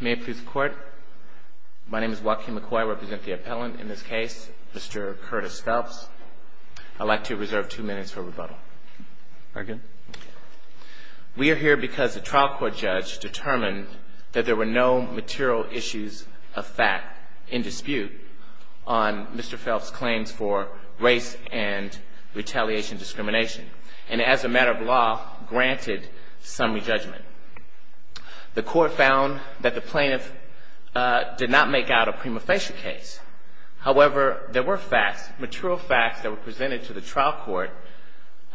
May it please the court. My name is Joaquin McCoy, I represent the appellant in this case, Mr. Curtis Phelps. I'd like to reserve two minutes for rebuttal. Very good. We are here because the trial court judge determined that there were no material issues of fact in dispute on Mr. Phelps' claims for race and retaliation discrimination, and as a matter of law, granted summary judgment. The court found that the plaintiff did not make out a prima facie case. However, there were facts, material facts that were presented to the trial court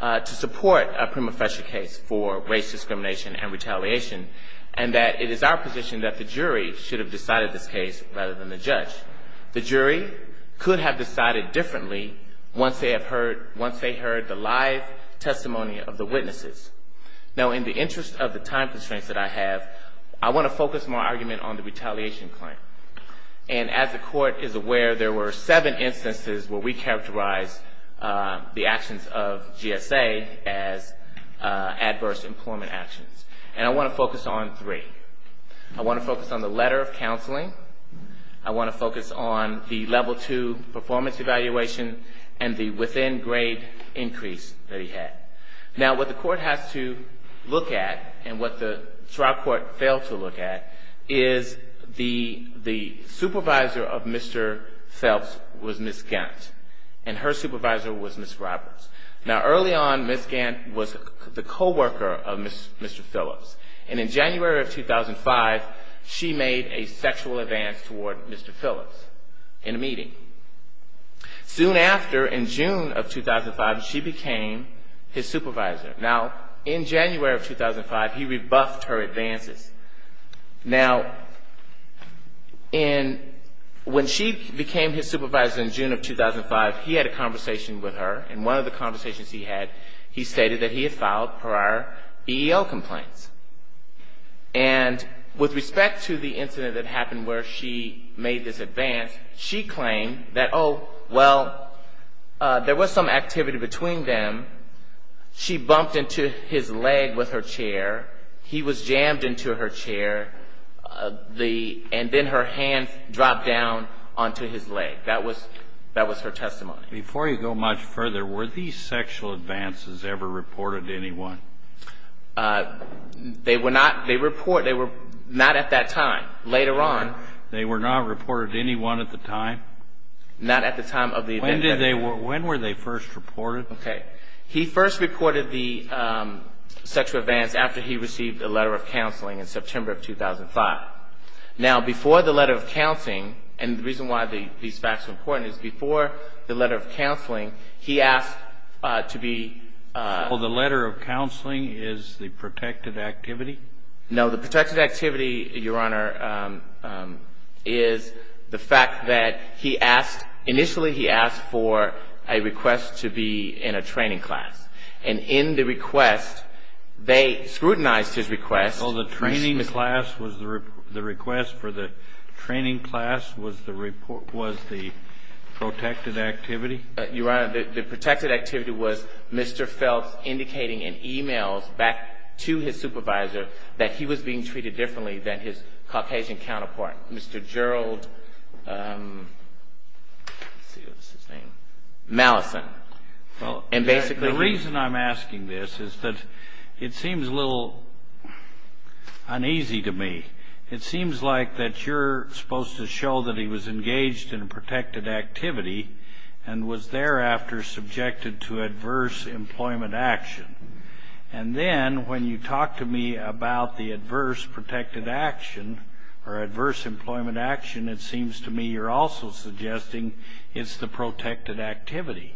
to support a prima facie case for race discrimination and retaliation, and that it is our position that the jury should have decided this case rather than the judge. The jury could have decided differently once they heard the live testimony of the witnesses. Now, in the interest of the time constraints that I have, I want to focus my argument on the retaliation claim. And as the court is aware, there were seven instances where we characterized the actions of GSA as adverse employment actions. And I want to focus on three. I want to focus on the letter of counseling, I want to focus on the level two performance evaluation, and the within grade increase that he had. Now, what the court has to look at, and what the trial court failed to look at, is the supervisor of Mr. Phelps was Ms. Gant, and her supervisor was Ms. Roberts. Now, early on, Ms. Gant was the co-worker of Mr. Phillips, and in January of 2005, she made a sexual advance toward Mr. Phillips in a meeting. Soon after, in June of 2005, she became his supervisor. Now, in January of 2005, he rebuffed her advances. Now, when she became his supervisor in June of 2005, he had a conversation with her, and one of the conversations he had, he stated that he had filed prior EEO complaints. And with respect to the incident that happened where she made this advance, she claimed that, oh, well, there was some activity between them. She bumped into his leg with her chair, he was jammed into her chair, and then her hand dropped down onto his leg. That was her testimony. Before you go much further, were these sexual advances ever reported to anyone? They were not at that time. Later on... They were not reported to anyone at the time? Not at the time of the event. When were they first reported? Okay. He first reported the sexual advance after he received a letter of counseling in September of 2005. Now, before the letter of counseling, and the reason why these facts are important, is before the letter of counseling, he asked to be... Oh, the letter of counseling is the protected activity? No, the protected activity, Your Honor, is the fact that he asked, initially he asked for a request to be in a training class. And in the request, they scrutinized his request. Oh, the training class was, the request for the training class was the protected activity? Your Honor, the protected activity was Mr. Phelps indicating in e-mails back to his supervisor that he was being treated differently than his Caucasian counterpart, Mr. Gerald, let's see what was his name, Mallison. And basically... The reason I'm asking this is that it seems a little uneasy to me. It seems like that you're supposed to show that he was engaged in a subject to adverse employment action. And then when you talk to me about the adverse protected action, or adverse employment action, it seems to me you're also suggesting it's the protected activity.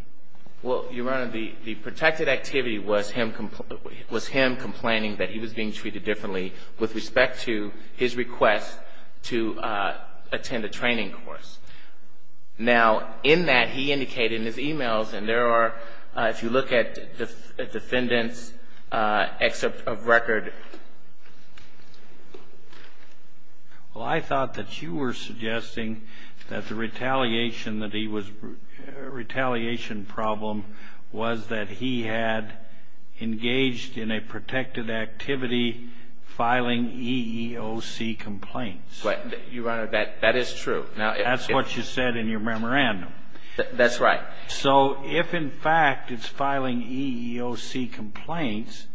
Well, Your Honor, the protected activity was him complaining that he was being treated differently with respect to his request to attend a training course. Now, in that, he indicated in his e-mails, and there are, if you look at the defendant's excerpt of record... Well, I thought that you were suggesting that the retaliation that he was, retaliation problem was that he had engaged in a protected activity filing EEOC complaints. But, Your Honor, that is true. That's what you said in your memorandum. That's right. So, if in fact it's filing EEOC complaints,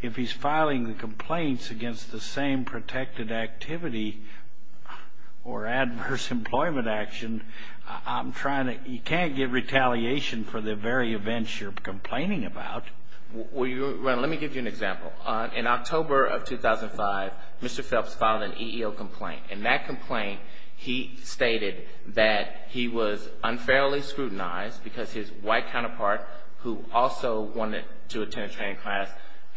if he's filing the complaints against the same protected activity or adverse employment action, I'm trying to, you can't get retaliation for the very events you're complaining about. Well, Your Honor, let me give you an example. In October of 2005, Mr. Phelps filed an EEO complaint. In that complaint, he stated that he was unfairly scrutinized because his white counterpart, who also wanted to attend a training class,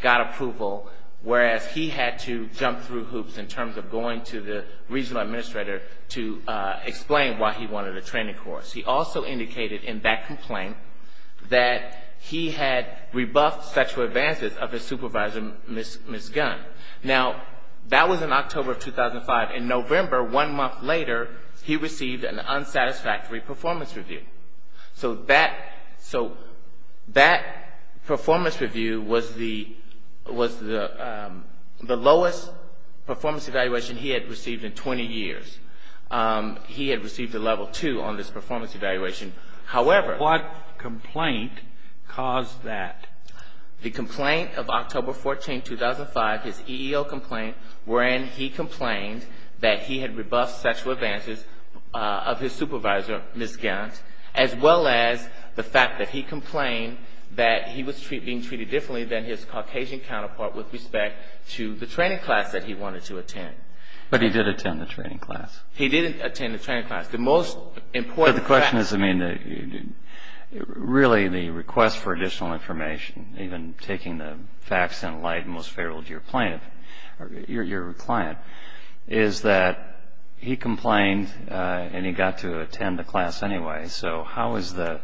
got approval, whereas he had to jump through hoops in terms of going to the regional administrator to explain why he wanted a training course. He also indicated in that complaint that he had rebuffed sexual advances of his supervisor, Ms. Gunn. Now, that was in October of 2005. In November, one month later, he received an unsatisfactory performance review. So that performance review was the lowest performance evaluation he had received in 20 years. He had received a level two on this performance evaluation. However... What complaint caused that? The complaint of October 14, 2005, his EEO complaint wherein he complained that he had rebuffed sexual advances of his supervisor, Ms. Gunn, as well as the fact that he complained that he was being treated differently than his Caucasian counterpart with respect to the training class that he wanted to attend. But he did attend the training class. He did attend the training class. The most important fact... But the question is, I mean, really the request for additional information, even taking the facts in light, most favorable to your client, is that he complained and he got to attend the class anyway. So how is the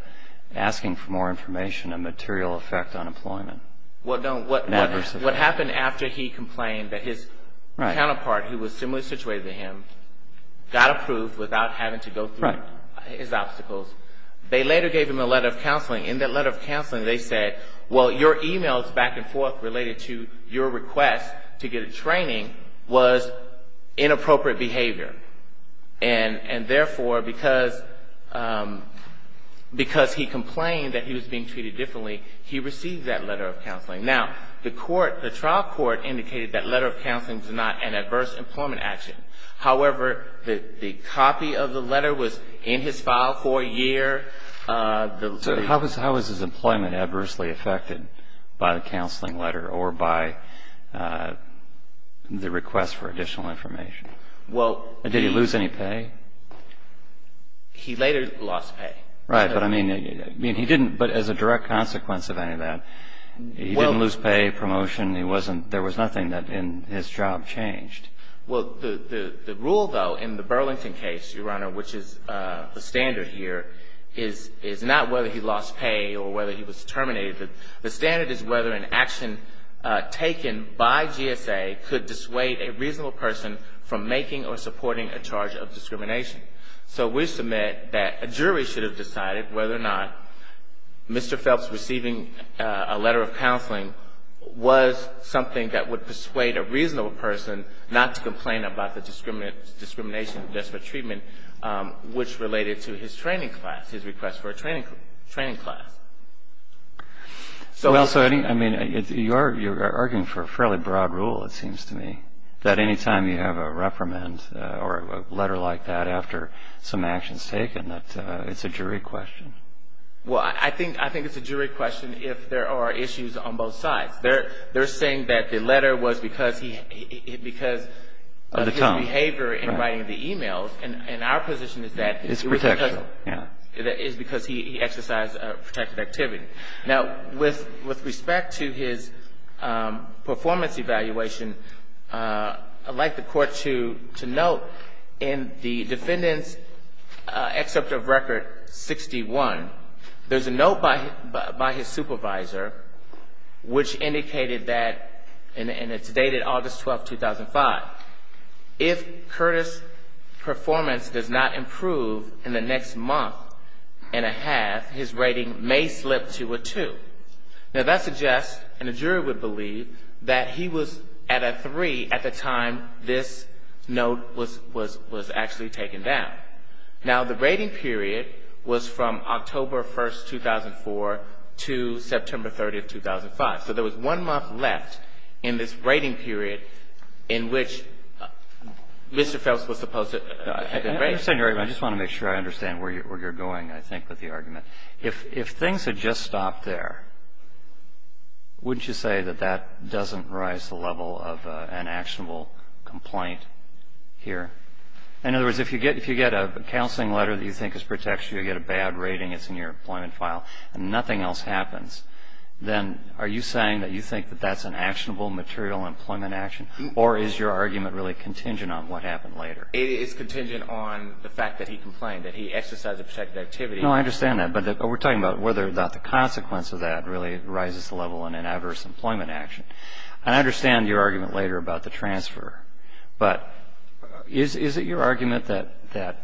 asking for more information a material effect on employment? What happened after he complained that his counterpart, who was similarly situated to him, got approved without having to go through his obstacles? They later gave him a letter of counseling. In that letter of counseling, they said, well, your emails back and forth related to your request to get a training was inappropriate behavior. And therefore, because he complained that he was being treated differently, he received that letter of counseling. Now, the trial court indicated that letter of counseling was not an adverse employment action. However, the copy of the letter was in his file for a year. So how was his employment adversely affected by the counseling letter or by the request for additional information? Did he lose any pay? He later lost pay. Right, but I mean, he didn't, but as a direct consequence of any of that, he didn't lose pay, promotion. There was nothing that in his job changed. Well, the rule, though, in the Burlington case, Your Honor, which is the standard here, is not whether he lost pay or whether he was terminated. The standard is whether an action taken by GSA could dissuade a reasonable person from making or supporting a charge of discrimination. So we submit that a jury should have decided whether or not Mr. Phelps receiving a letter of counseling was something that would persuade a reasonable person not to complain about the discrimination of desperate treatment, which related to his training class, his request for a training class. Well, so I mean, you're arguing for a fairly broad rule, it seems to me, that any time you have a reprimand or a letter like that after some action's taken, that it's a jury question. Well, I think it's a jury question if there are issues on both sides. They're saying that the letter was because of his behavior in writing the e-mails. And our position is that it was because he exercised protective activity. Now, with respect to his performance evaluation, I'd like the Court to note in the Defendant's Excerpt of Record 61, there's a note by his supervisor which indicated that, and it's dated August 12, 2005, if Curtis' performance does not improve in the next month and a half, his rating may slip to a 2. Now, that suggests, and the jury would believe, that he was at a 3 at the time this note was actually taken down. Now, the rating period was from October 1, 2004 to September 30, 2005. So there was one month left in this rating period in which Mr. Phelps was supposed to have been rated. I just want to make sure I understand where you're going, I think, with the argument. If things had just stopped there, wouldn't you say that that doesn't raise the level of an actionable complaint here? In other words, if you get a counseling letter that you think is protective, you get a bad rating, it's in your employment file, and nothing else happens, then are you saying that you think that that's an actionable material employment action? Or is your argument really contingent on what happened later? It is contingent on the fact that he complained, that he exercised a protective activity. No, I understand that. But we're talking about whether or not the consequence of that really rises the level in an adverse employment action. I understand your argument later about the transfer. But is it your argument that a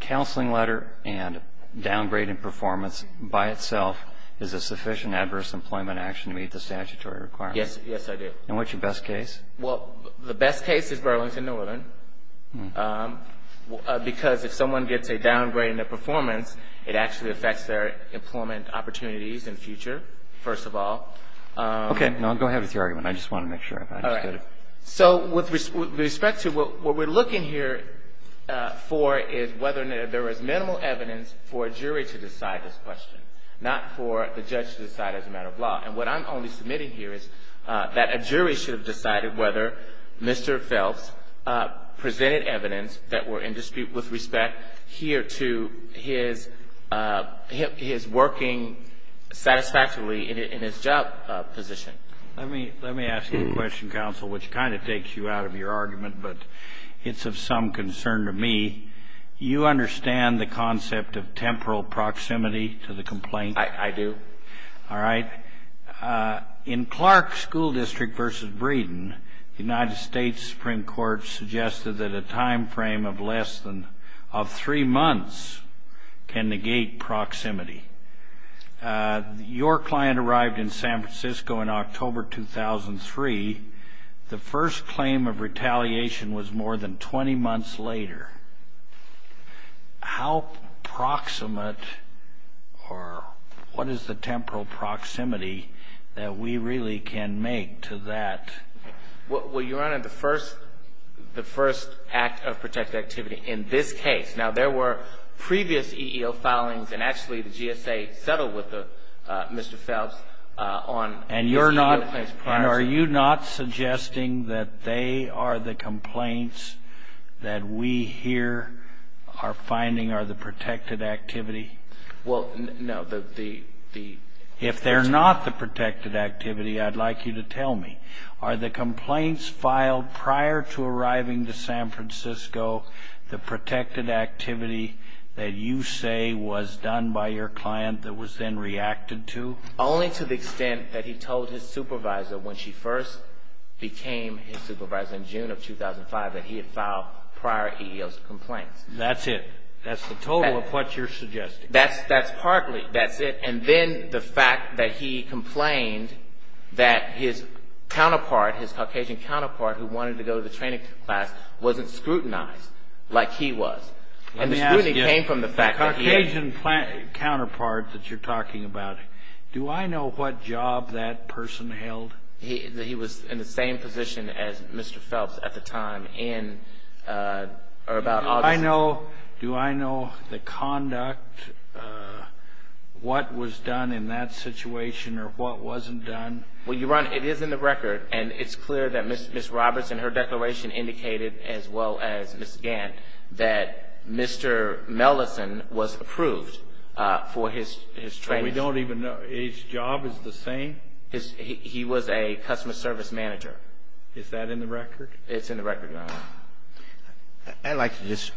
counseling letter and downgrading performance by itself is a sufficient adverse employment action to meet the statutory requirements? Yes, I do. And what's your best case? Well, the best case is Burlington Northern because if someone gets a downgrade in their performance, it actually affects their employment opportunities in the future, first of all. Okay. No, go ahead with your argument. I just want to make sure I understood it. All right. So with respect to what we're looking here for is whether there is minimal evidence for a jury to decide this question, not for the judge to decide as a matter of law. And what I'm only submitting here is that a jury should have decided whether Mr. Phelps presented evidence that were in dispute with respect here to his working satisfactorily in his job position. Let me ask you a question, counsel, which kind of takes you out of your argument, but it's of some concern to me. You understand the concept of temporal proximity to the complaint? I do. All right. In Clark School District v. Breeden, the United States Supreme Court suggested that a time frame of less than three months can negate proximity. Your client arrived in San Francisco in October 2003. The first claim of retaliation was more than 20 months later. How proximate or what is the temporal proximity that we really can make to that? Well, Your Honor, the first act of protected activity in this case. Now, there were previous EEO filings, and actually the GSA settled with Mr. Phelps on his EEO claims prior to that. Are you saying that they are the complaints that we here are finding are the protected activity? Well, no. If they're not the protected activity, I'd like you to tell me. Are the complaints filed prior to arriving to San Francisco the protected activity that you say was done by your client that was then reacted to? Only to the extent that he told his supervisor when she first became his supervisor in June of 2005 that he had filed prior EEO complaints. That's it. That's the total of what you're suggesting. That's partly. That's it. And then the fact that he complained that his counterpart, his Caucasian counterpart who wanted to go to the training class wasn't scrutinized like he was. Let me ask you, the Caucasian counterpart that you're talking about, do I know what job that person held? He was in the same position as Mr. Phelps at the time in or about August. Do I know the conduct, what was done in that situation or what wasn't done? Well, Your Honor, it is in the record and it's clear that Ms. Roberts in her declaration indicated as well as Ms. Gant that Mr. Mellison was approved for his training. We don't even know. His job is the same? He was a customer service manager. Is that in the record? It's in the record, Your Honor. I'd like to just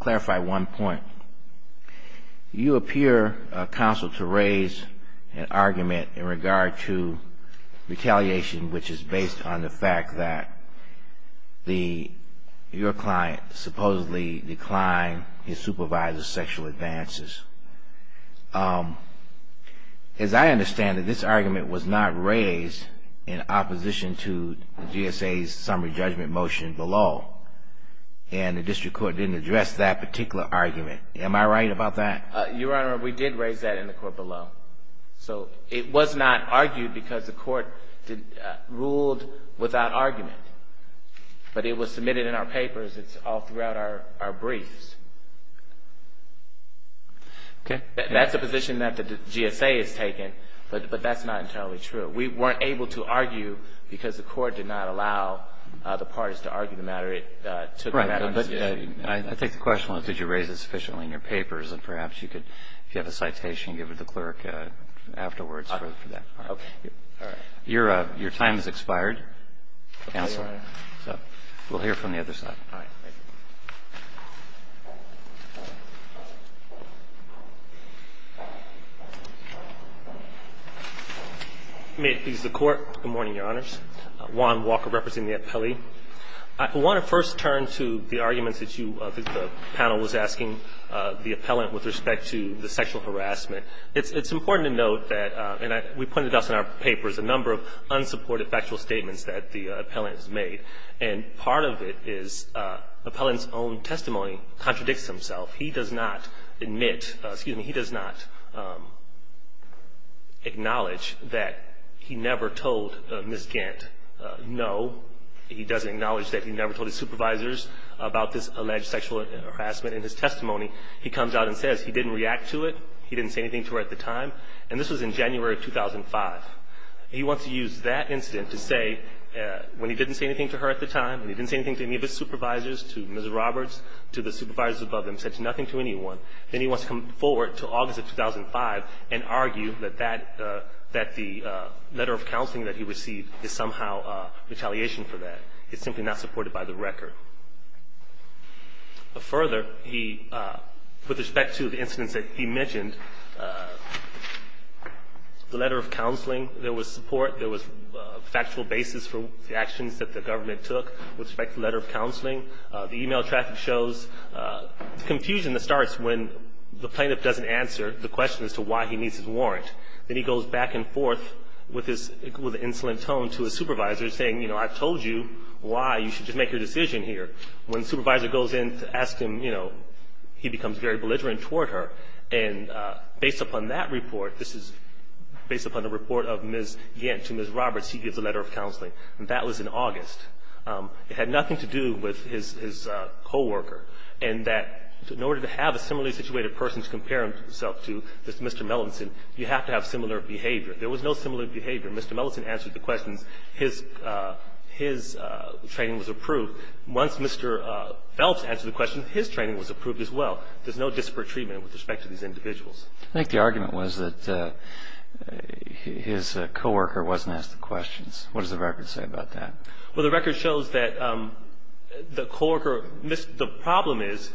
clarify one point. You appear, counsel, to raise an argument in regard to retaliation which is based on the fact that your client supposedly declined his supervisor's sexual advances. As I understand it, this argument was not raised in opposition to GSA's summary judgment motion below and the district court didn't address that particular argument. Am I right about that? Your Honor, we did raise that in the court below. So it was not argued because the court ruled without argument, but it was submitted in our papers. It's all throughout our briefs. Okay. That's a position that the GSA has taken, but that's not entirely true. We weren't able to argue because the court did not allow the parties to argue the matter. I think the question was did you raise it sufficiently in your papers and perhaps you could, if you have a citation, give it to the clerk afterwards for that. Okay. All right. Your time has expired, counsel, so we'll hear from the other side. All right. Thank you. May it please the Court. Good morning, Your Honors. Juan Walker representing the appellee. I want to first turn to the arguments that the panel was asking the appellant with respect to the sexual harassment. It's important to note that we pointed out in our papers a number of unsupported factual statements that the appellant has made, and part of it is the appellant's own testimony contradicts himself. He does not admit, excuse me, he does not acknowledge that he never told Ms. Gant, no, he doesn't acknowledge that he never told his supervisors about this alleged sexual harassment in his testimony. He comes out and says he didn't react to it, he didn't say anything to her at the time, and this was in January of 2005. He wants to use that incident to say when he didn't say anything to her at the time, when he didn't say anything to any of his supervisors, to Ms. Roberts, to the supervisors above him, said nothing to anyone, then he wants to come forward to August of 2005 and argue that the letter of counseling that he received is somehow retaliation for that. It's simply not supported by the record. Further, with respect to the incidents that he mentioned, the letter of counseling, there was support, there was a factual basis for the actions that the government took with respect to the letter of counseling. The e-mail traffic shows confusion that starts when the plaintiff doesn't answer the question as to why he needs his warrant. Then he goes back and forth with an insolent tone to his supervisor saying, you know, when the supervisor goes in to ask him, you know, he becomes very belligerent toward her, and based upon that report, this is based upon the report of Ms. Yent to Ms. Roberts, he gives a letter of counseling, and that was in August. It had nothing to do with his coworker, and that in order to have a similarly situated person to compare himself to, Mr. Melanson, you have to have similar behavior. There was no similar behavior. Mr. Melanson answered the questions. His training was approved. Once Mr. Phelps answered the question, his training was approved as well. There's no disparate treatment with respect to these individuals. I think the argument was that his coworker wasn't asked the questions. What does the record say about that? Well, the record shows that the coworker missed. The problem is,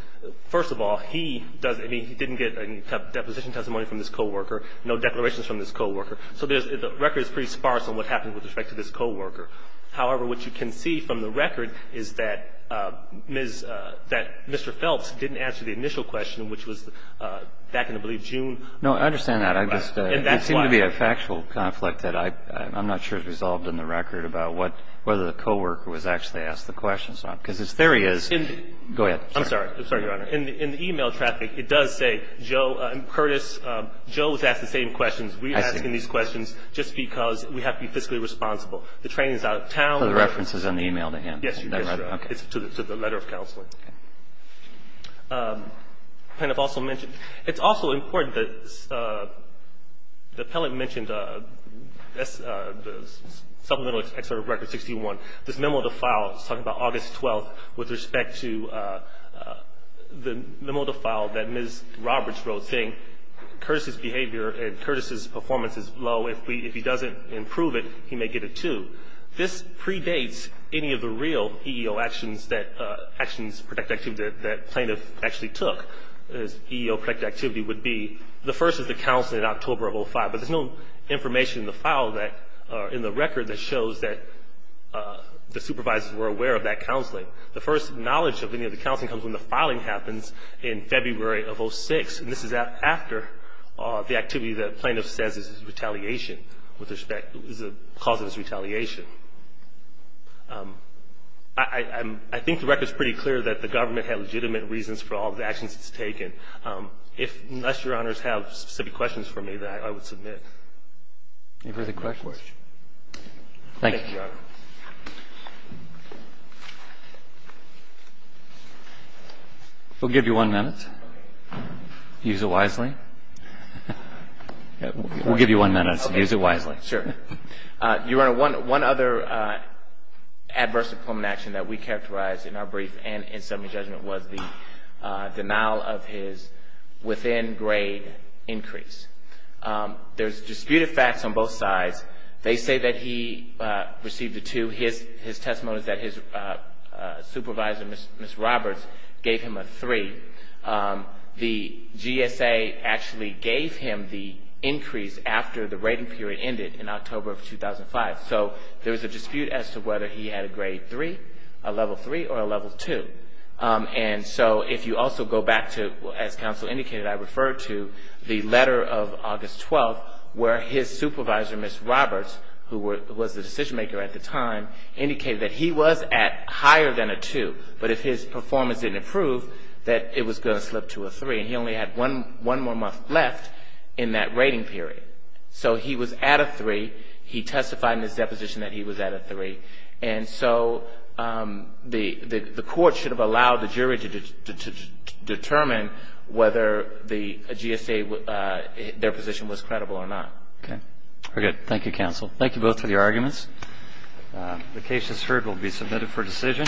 first of all, he doesn't, I mean, he didn't get a deposition testimony from this coworker, no declarations from this coworker. So the record is pretty sparse on what happened with respect to this coworker. However, what you can see from the record is that Mr. Phelps didn't answer the initial question, which was back in, I believe, June. No, I understand that. It seemed to be a factual conflict that I'm not sure is resolved in the record about whether the coworker was actually asked the questions or not, because his theory is go ahead. I'm sorry. I'm sorry, Your Honor. In the e-mail traffic, it does say Joe and Curtis, Joe was asked the same questions. We're asking these questions just because we have to be fiscally responsible. The training is out of town. So the reference is in the e-mail to him. Yes, Your Honor. Okay. It's to the letter of counseling. Okay. And I've also mentioned, it's also important that the appellant mentioned the supplemental excerpt of Record 61, this memo to file talking about August 12th with respect to the memo to file that Ms. Roberts wrote saying Curtis's behavior and Curtis's performance is low. If he doesn't improve it, he may get a 2. This predates any of the real EEO actions that plaintiff actually took. His EEO-protected activity would be, the first is the counseling in October of 2005, but there's no information in the record that shows that the supervisors were aware of that counseling. The first knowledge of any of the counseling comes when the filing happens in February of 06, and this is after the activity that plaintiff says is retaliation with respect to the cause of his retaliation. I think the record is pretty clear that the government had legitimate reasons for all the actions it's taken. Unless Your Honors have specific questions for me, then I would submit. Any further questions? Thank you. Thank you, Your Honor. We'll give you one minute. Use it wisely. We'll give you one minute. Use it wisely. Sure. Your Honor, one other adverse employment action that we characterized in our brief and in subpoena judgment was the denial of his within-grade increase. There's disputed facts on both sides. They say that he received a 2. His testimony is that his supervisor, Ms. Roberts, gave him a 3. The GSA actually gave him the increase after the rating period ended in October of 2005. So there was a dispute as to whether he had a grade 3, a level 3, or a level 2. And so if you also go back to, as counsel indicated, I referred to the letter of August 12, where his supervisor, Ms. Roberts, who was the decision-maker at the time, indicated that he was at higher than a 2. But if his performance didn't improve, that it was going to slip to a 3. And he only had one more month left in that rating period. So he was at a 3. He testified in his deposition that he was at a 3. And so the court should have allowed the jury to determine whether the GSA, their position was credible or not. Okay. We're good. Thank you, counsel. Thank you both for your arguments. The case as heard will be submitted for decision.